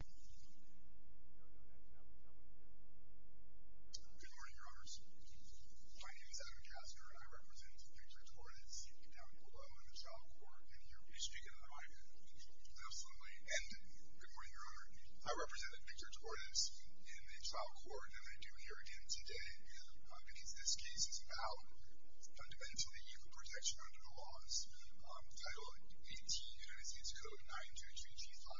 Good morning, Your Honors. My name is Adam Gasner, and I represent Victor Torres in the trial court, and I do here again today because this case is about, fundamentally, equal protection under the laws. Title 18, United States Code 923G5,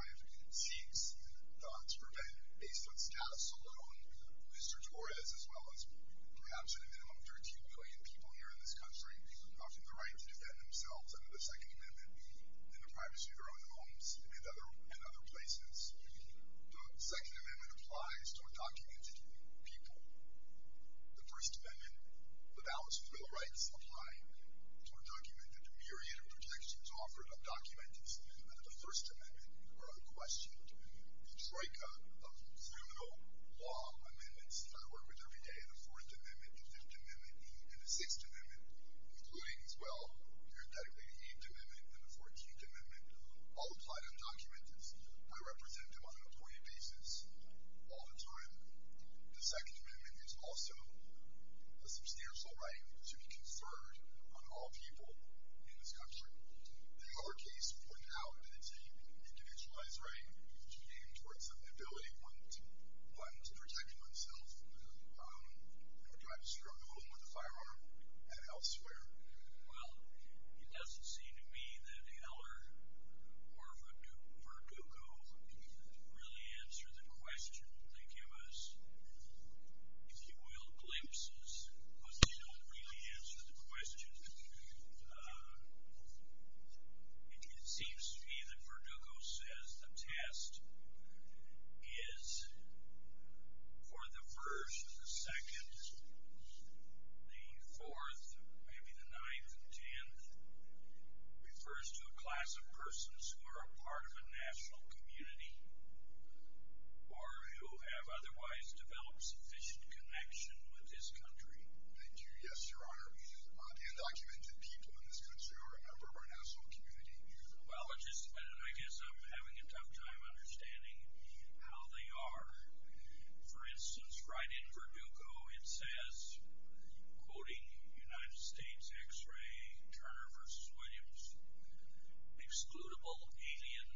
seeks to prevent, based on status alone, Victor Torres, as well as perhaps at a minimum 13 million people here in this country, from having the right to defend themselves under the Second Amendment in the privacy of their own homes and other places. The Second Amendment applies to undocumented people. The First Amendment and the balance of civil rights apply to undocumented. The myriad of protections offered to undocumented under the First Amendment are unquestioned. The troika of criminal law amendments that I work with every day, the Fourth Amendment, the Fifth Amendment, and the Sixth Amendment, including as well, parenthetically, the Eighth Amendment and the Fourteenth Amendment, all apply to undocumented. I represent them on an appointed basis all the time. The Second Amendment is a substantial right to be conferred on all people in this country. The Heller case pointed out that it's a individualized right, which came towards the ability of one to protect oneself in the privacy of the home, with a firearm, and elsewhere. Well, it doesn't seem to me that Heller or Verdugo really answered the question. They don't really answer the question. It seems to me that Verdugo says the test is for the first, the second, the fourth, maybe the ninth, and the tenth. It refers to a class of persons who are a part of a national community or who have otherwise developed sufficient connection with this country. Thank you. Yes, Your Honor. Undocumented people in this country are a member of our national community. Well, I guess I'm having a tough time understanding how they are. For instance, right in Verdugo it says, quoting United States X-ray, Turner v. Williams, Excludable alien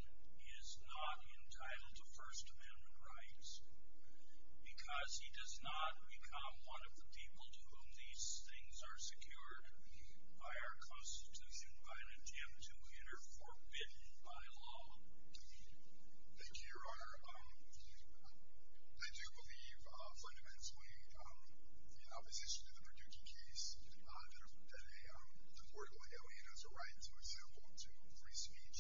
is not entitled to First Amendment rights because he does not become one of the people to whom these things are secured by our Constitution by an attempt to enter forbidden by law. Thank you, Your Honor. I do believe fundamentally in opposition to the Verdugo case that a deportable alien has a right, for example, to free speech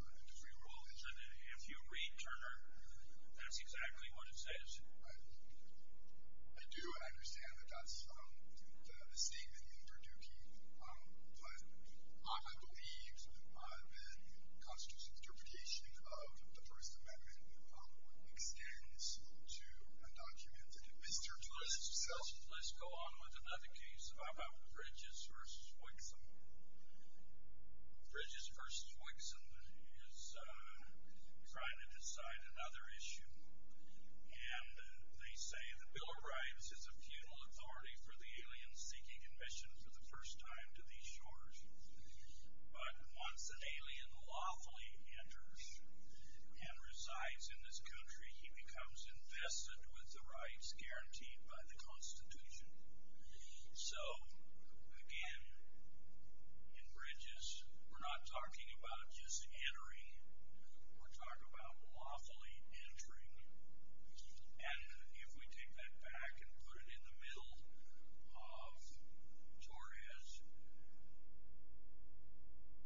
and to free religion. Well, if you read Turner, that's exactly what it says. I do understand that that's the statement in Verdugo, but I believe that the Constitution's interpretation of the First Amendment extends to undocumented Mr. Turner himself. Let's go on with another case about Bridges v. Wixom. Bridges v. Wixom is trying to decide another issue, and they say the Bill of Rights is a futile authority for the alien seeking admission for the first time to these shores. But once an alien lawfully enters and resides in this country, he becomes invested with the rights guaranteed by the Constitution. So, again, in Bridges, we're not talking about just entering. We're talking about lawfully entering. And if we take that back and put it in the middle of Torres,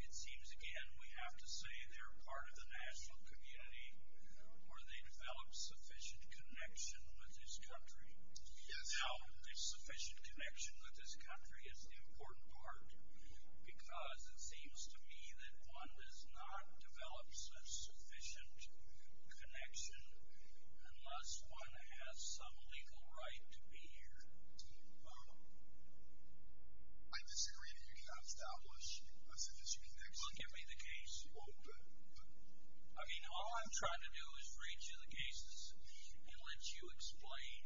it seems, again, we have to say they're part of the national community, or they develop sufficient connection with this country. Now, sufficient connection with this country is the important part, because it seems to me that one does not develop sufficient connection unless one has some legal right to be here. I disagree that you cannot establish a sufficient connection. Well, give me the case. I mean, all I'm trying to do is read you the cases and let you explain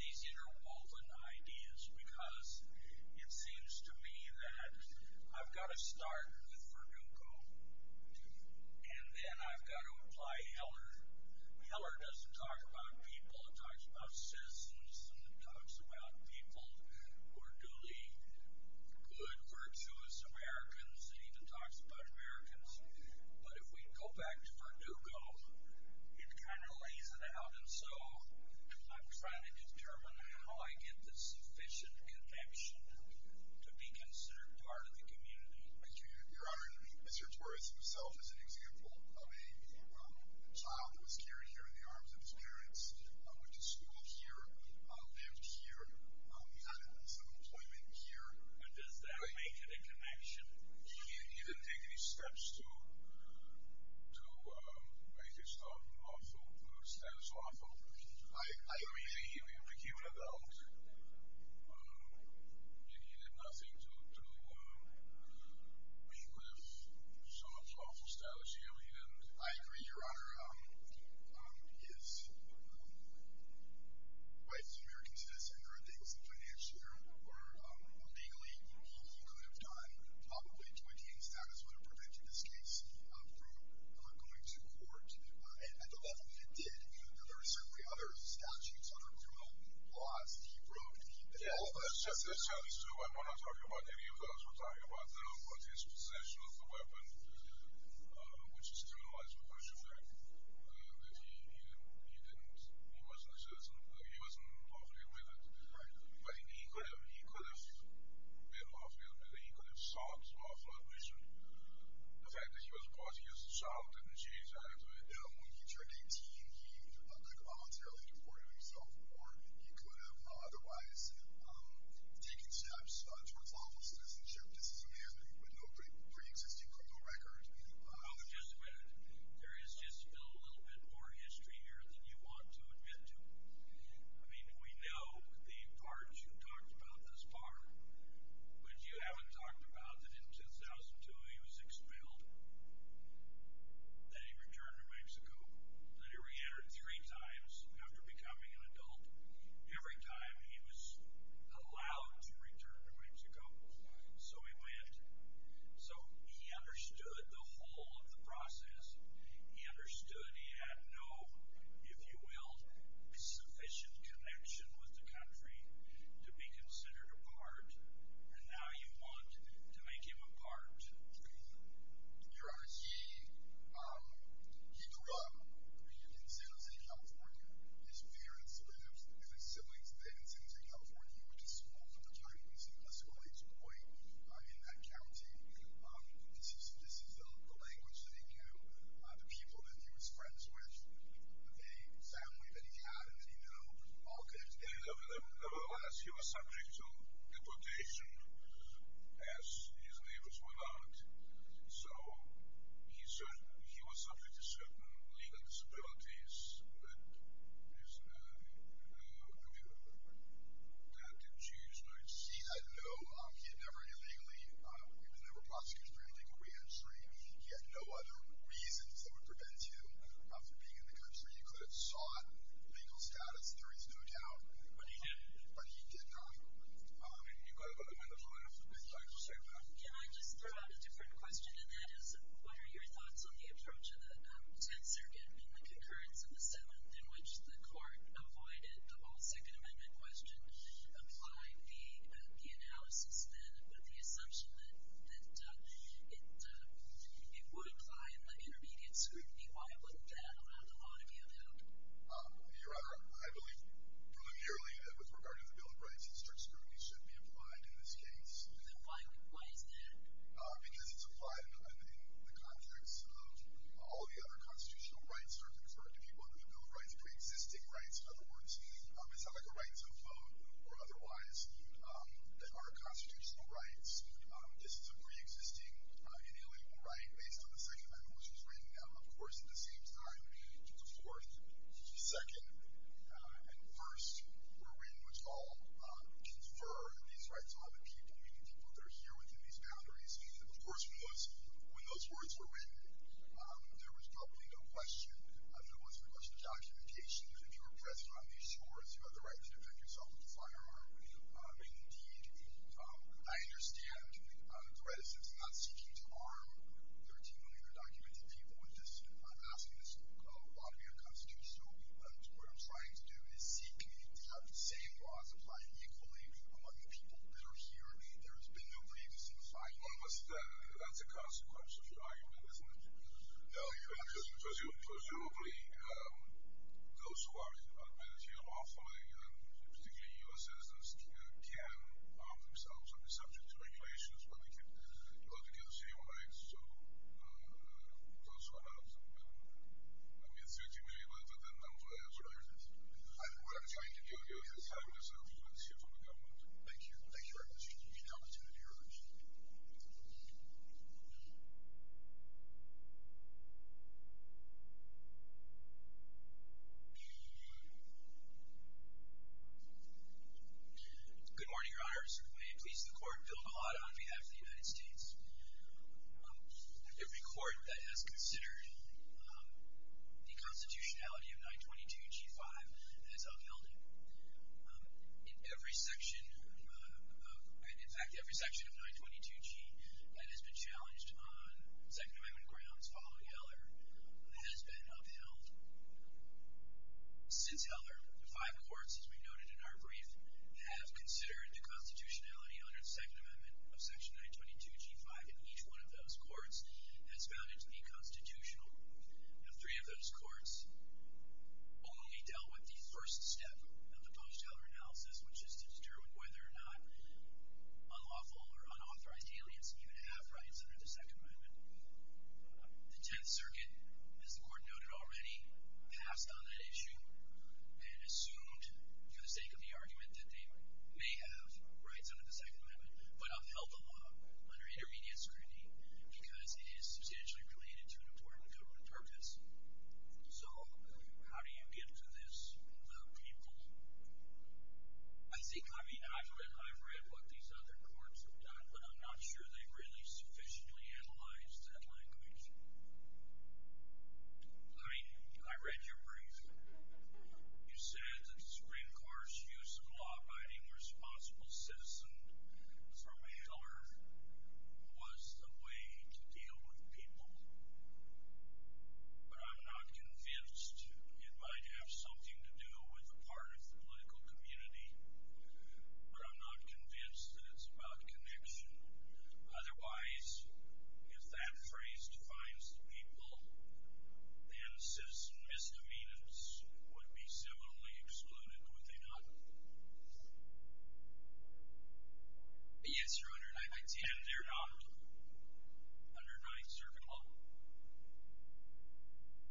these interwoven ideas, because it seems to me that I've got to start with Verdugo, and then I've got to apply Heller. Heller doesn't talk about people. It talks about citizens, and it talks about people who are duly good, virtuous Americans. It even talks about Americans. But if we go back to Verdugo, it kind of lays it out. And so I'm trying to determine how I get the sufficient connection to be considered part of the community. Your Honor, Mr. Torres himself is an example of a child who was carried here in the arms of his parents, went to school here, lived here, had some employment here. And does that make it a connection? He didn't take any steps to make his status lawful. I agree that he became an adult, and he did nothing to meet with some unlawful status here. I agree, Your Honor. He is a white American citizen. There are things that financially or legally he could have done, probably to attain status would have prevented this case from going to court at the level that it did. There are certainly other statutes, other criminal laws that he broke. I'm not talking about any of those. We're talking about his possession of the weapon, which is terminalized because he wasn't lawfully with it. But he could have been lawfully with it. He could have sought lawful admission. The fact that he was brought here as a child didn't change that. When he turned 18, he could have voluntarily deported himself, or he could have otherwise taken steps towards lawful citizenship. This is a man with no pre-existing criminal record. Well, just a minute. There is just a little bit more history here than you want to admit to. I mean, we know the part you talked about thus far, but you haven't talked about that he was expelled, that he returned to Mexico, that he reentered three times after becoming an adult, every time he was allowed to return to Mexico. So he went. So he understood the whole of the process. He understood he had no, if you will, sufficient connection with the country to be considered a part, and now you want to make him a part. Your Honor, he grew up in San Jose, California. His parents lived, his siblings lived in San Jose, California. He went to school from the time he was an elementary school age boy in that county. This is the language that he knew, the people that he was friends with, the family that he had, and that he knew, all connected to him. Nevertheless, he was subject to deportation, as his neighbors were not. So he was subject to certain legal disabilities that the Jews might see. No, he had never illegally, he was never prosecuted for any legal re-entry. He had no other reasons that would prevent him from being in the country. He could have sought legal status, there is no doubt. But he didn't. But he did not. You've got about a minute left. Can I just throw out a different question, and that is, what are your thoughts on the approach of the 10th Circuit and the concurrence of the 7th in which the court avoided the analysis then with the assumption that it would apply in the intermediate scrutiny? Why wouldn't that allow the law to be availed? Your Honor, I believe preliminarily that with regard to the Bill of Rights, strict scrutiny should be applied in this case. Then why is that? Because it's applied in the context of all the other constitutional rights that are conferred to people under the Bill of Rights, pre-existing rights, in other words, it's not like a rights to vote or otherwise that are constitutional rights. This is a pre-existing inalienable right based on the Second Amendment, which was written, of course, at the same time. The Fourth, Second, and First were written, which all confer these rights to all the people, meaning people that are here within these boundaries. Of course, when those words were written, there was probably no question, there was I understand the reticence in not seeking to arm 13 million undocumented people with this. I'm asking this law to be unconstitutional. What I'm trying to do is seek to have the same laws applied equally among the people that are here. There has been no briefness in the finding. Well, that's a consequence of your argument, isn't it? No. Presumably, those who are admitted here lawfully, particularly U.S. citizens, can arm themselves and be subject to regulations where they can go to get the same rights. So, those who are not, I mean, 13 million, whether they're undocumented or not. That's what I understand. That's what I'm trying to do. Yes. That's what I'm trying to say. Let's hear from the government. Thank you. Thank you very much. We look forward to hearing from you. Good morning, Your Honor. Certainly pleased the Court billed a lot on behalf of the United States. Every court that has considered the constitutionality of 922G5 has upheld it. In fact, every section of 922G that has been challenged on Second Amendment grounds following post-Heller has been upheld. Since Heller, the five courts, as we noted in our brief, have considered the constitutionality under the Second Amendment of Section 922G5, and each one of those courts has found it to be constitutional. Now, three of those courts only dealt with the first step of the post-Heller analysis, which is to determine whether or not unlawful or unauthorized aliens even have rights under the Second Amendment. The Tenth Circuit, as the Court noted already, passed on that issue and assumed, for the sake of the argument, that they may have rights under the Second Amendment, but upheld the law under intermediate scrutiny because it is substantially related to an important government purpose. So, how do you get to this, the people? I think, I mean, I've read what these other courts have done, but I'm not sure they've really sufficiently analyzed that language. I mean, I read your brief. You said that the Supreme Court's use of law-abiding responsible citizen from Heller was the way to deal with people, but I'm not convinced it might have something to do with a part of the political community, but I'm not convinced that it's about connection. Otherwise, if that phrase defines the people, then citizen misdemeanors would be similarly excluded, would they not? Yes, Your Honor. And they're not under Ninth Circuit law?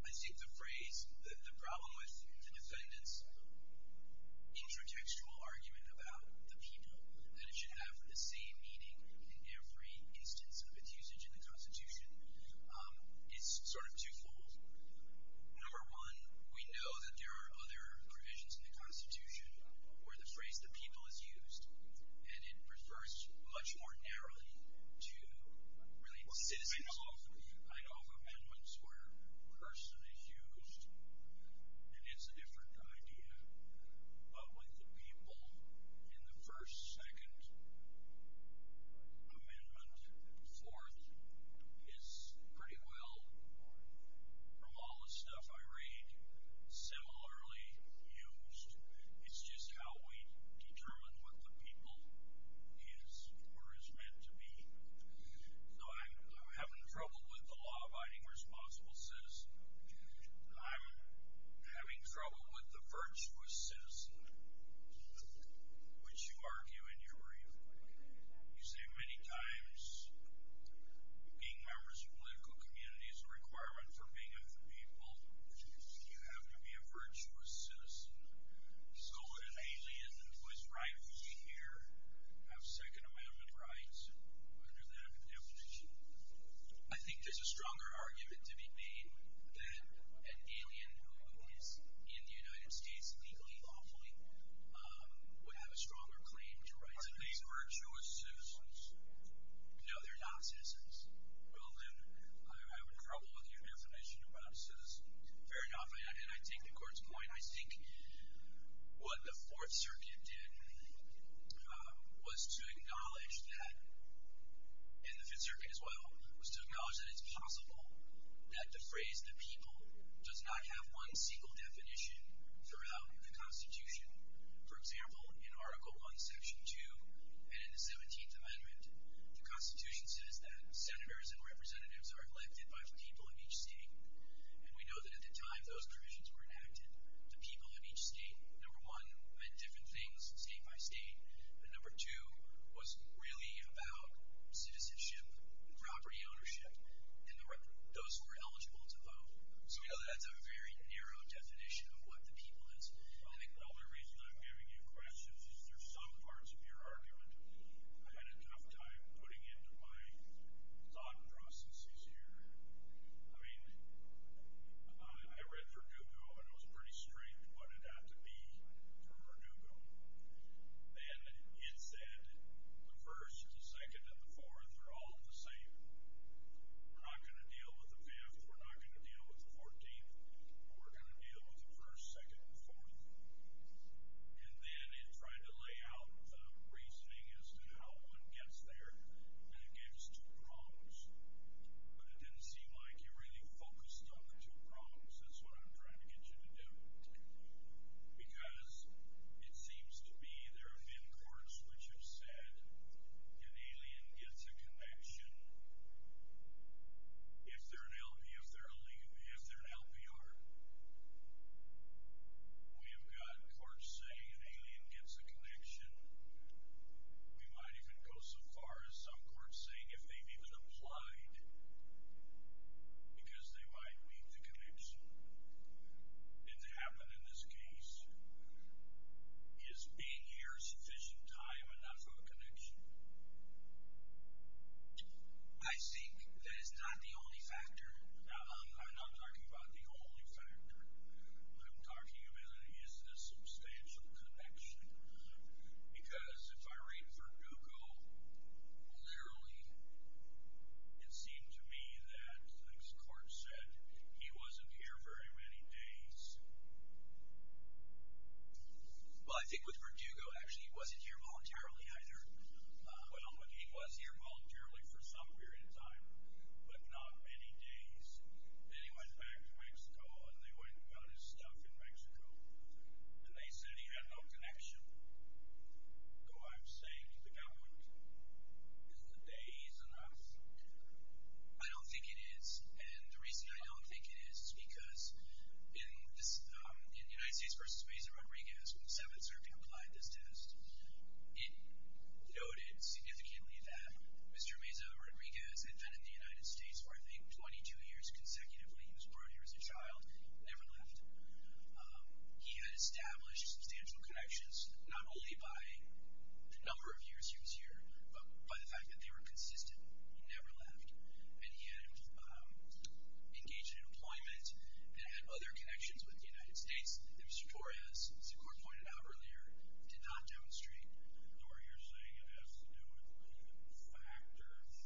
I think the phrase, the problem with the defendant's intratextual argument about the people, that should have the same meaning in every instance of its usage in the Constitution, is sort of twofold. Number one, we know that there are other provisions in the Constitution where the phrase, the people, is used, and it refers much more narrowly to citizens. I know of amendments where person is used, and it's a different idea, but with the people in the first, second, amendment, fourth, is pretty well, from all the stuff I read, similarly used. It's just how we determine what the people is or is meant to be. So I'm having trouble with the law-abiding responsible citizen. I'm having trouble with the virtuous citizen, which you argue in your review. You say many times, being members of a political community is a requirement for being of the people. You have to be a virtuous citizen. So would an alien who is rightfully here have Second Amendment rights under that definition? I think there's a stronger argument to be made that an alien who is in the United States legally, lawfully, would have a stronger claim to rights. Are they virtuous citizens? No, they're not citizens. Well then, I would have trouble with your definition about citizens. Fair enough, and I take the court's point. I think what the Fourth Circuit did was to acknowledge that, and the Fifth Circuit as well, was to acknowledge that it's possible that the phrase, the people, does not have one single definition throughout the Constitution. For example, in Article I, Section 2, and in the 17th Amendment, the Constitution says that senators and representatives are elected by the people in each state. And we know that at the time those provisions were enacted, the people in each state, number one, meant different things state by state, and number two was really about citizenship, property ownership, and those who were eligible to vote. So we know that's a very narrow definition of what the people is. Well, the only reason I'm giving you questions is there's some parts of your argument I had a tough time putting into my thought processes here. I mean, I read Verdugo, and it was pretty strict what it had to be for Verdugo. And it said the first, the second, and the fourth are all the same. We're not going to deal with the fifth. We're not going to deal with the fourteenth. We're going to deal with the first, second, and fourth. And then it tried to lay out the reasoning as to how one gets there, and it gave us two prongs, but it didn't seem like you really focused on the two prongs. That's what I'm trying to get you to do. Because it seems to be there have been courts which have said an alien gets a connection if they're an LBR. We have gotten courts saying an alien gets a connection. We might even go so far as some courts saying if they've even applied because they might leave the connection. And to happen in this case, is being here sufficient time enough of a connection? I think that is not the only factor. No, I'm not talking about the only factor. What I'm talking about is the substantial connection. Because if I read Verdugo, literally, it seemed to me that this court said he wasn't here very many days. Well, I think with Verdugo, actually, he wasn't here voluntarily either. Well, he was here voluntarily for some period of time, but not many days. Then he went back to Mexico, and they went and got his stuff in Mexico. And they said he had no connection. So I'm saying to the government, is the day enough? I don't think it is. And the reason I don't think it is is because in the United States versus Meza Rodriguez, when the Seventh Circuit applied this test, it noted significantly that Mr. Meza Rodriguez had been in the United States for, I think, 22 years consecutively. He was brought here as a child, never left. He had established substantial connections, not only by the number of years he was here, but by the fact that they were consistent. He never left. And he had engaged in employment and had other connections with the United States that Mr. Torres, as the court pointed out earlier, did not demonstrate. So are you saying it has to do with factors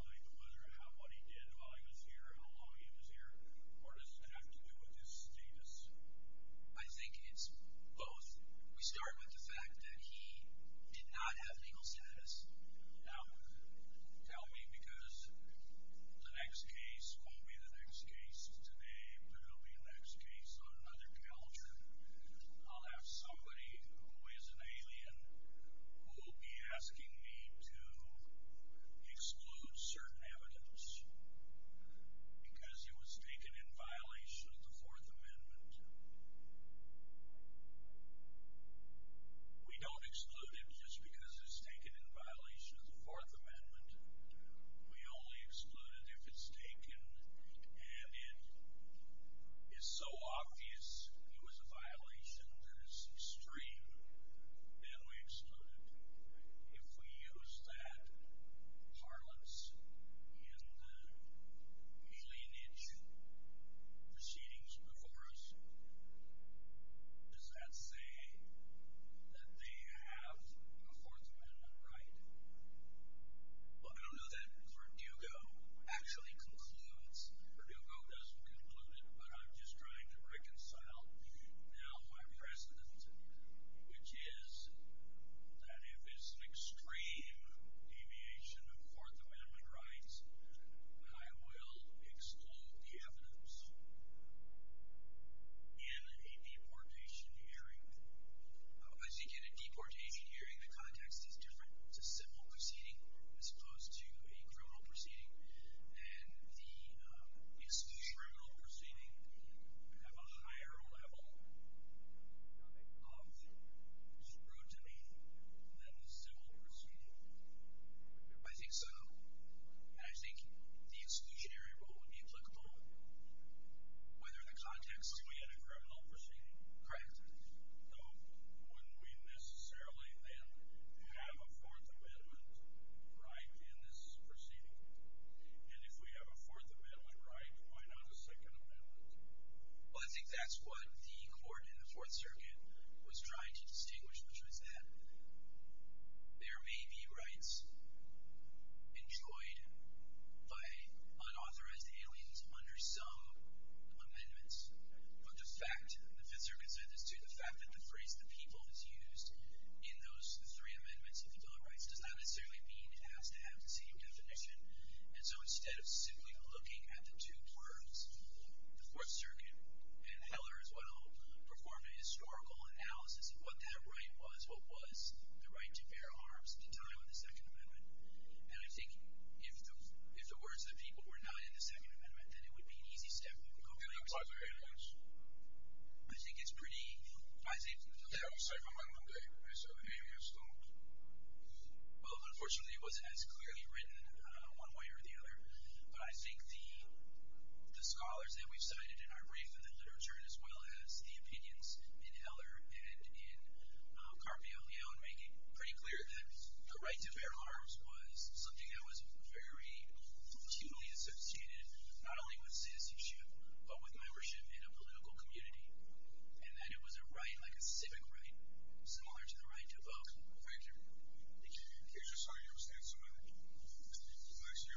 like whether or not what he did while he was here, how long he was here, or does it have to do with his status? I think it's both. We start with the fact that he did not have legal status. Now, tell me, because the next case won't be the next case today, but it'll be the next case on another calendar. I'll have somebody who is an alien who will be asking me to exclude certain evidence because it was taken in violation of the Fourth Amendment. We don't exclude it just because it was taken in violation of the Fourth Amendment. We only exclude it if it's taken and it is so obvious. If it was a violation that is extreme, then we exclude it. If we use that parlance in the cleanage proceedings before us, does that say that they have a Fourth Amendment right? Well, I don't know that Verdugo actually concludes. Verdugo doesn't conclude it, but I'm just trying to reconcile now my precedent, which is that if it's an extreme deviation of Fourth Amendment rights, I will exclude the evidence in a deportation hearing. As you get a deportation hearing, the context is different. It's a civil proceeding as opposed to a criminal proceeding, and the exclusionary criminal proceedings have a higher level of scrutiny than the civil proceeding. I think so, and I think the exclusionary rule would be applicable, whether the context is— But we had a criminal proceeding. Correct. So wouldn't we necessarily then have a Fourth Amendment right in this proceeding? And if we have a Fourth Amendment right, why not a Second Amendment? Well, I think that's what the court in the Fourth Circuit was trying to distinguish, which was that there may be rights enjoyed by unauthorized aliens under some amendments, but the fact that the Fifth Circuit said this, too, the fact that the phrase the people is used in those three amendments of the dog rights does not necessarily mean it has to have the same definition. And so instead of simply looking at the two words, the Fourth Circuit and Heller as well performed a historical analysis of what that right was, what was the right to bear arms at the time of the Second Amendment. And I think if the words of the people were not in the Second Amendment, then it would be an easy step. And that applies to aliens? I think it's pretty— Yeah, it was Second Amendment Day, so the aliens don't— Well, unfortunately, it wasn't as clearly written one way or the other. But I think the scholars that we've cited in our brief and the literature, as well as the opinions in Heller and in Carpe Ileo, make it pretty clear that the right to bear arms was something that was very humanly substantiated not only with citizenship, but with membership in a political community, and that it was a right, like a civic right, similar to the right to vote. Thank you. Thank you. Here's just how you're going to stand somewhere next year on your own.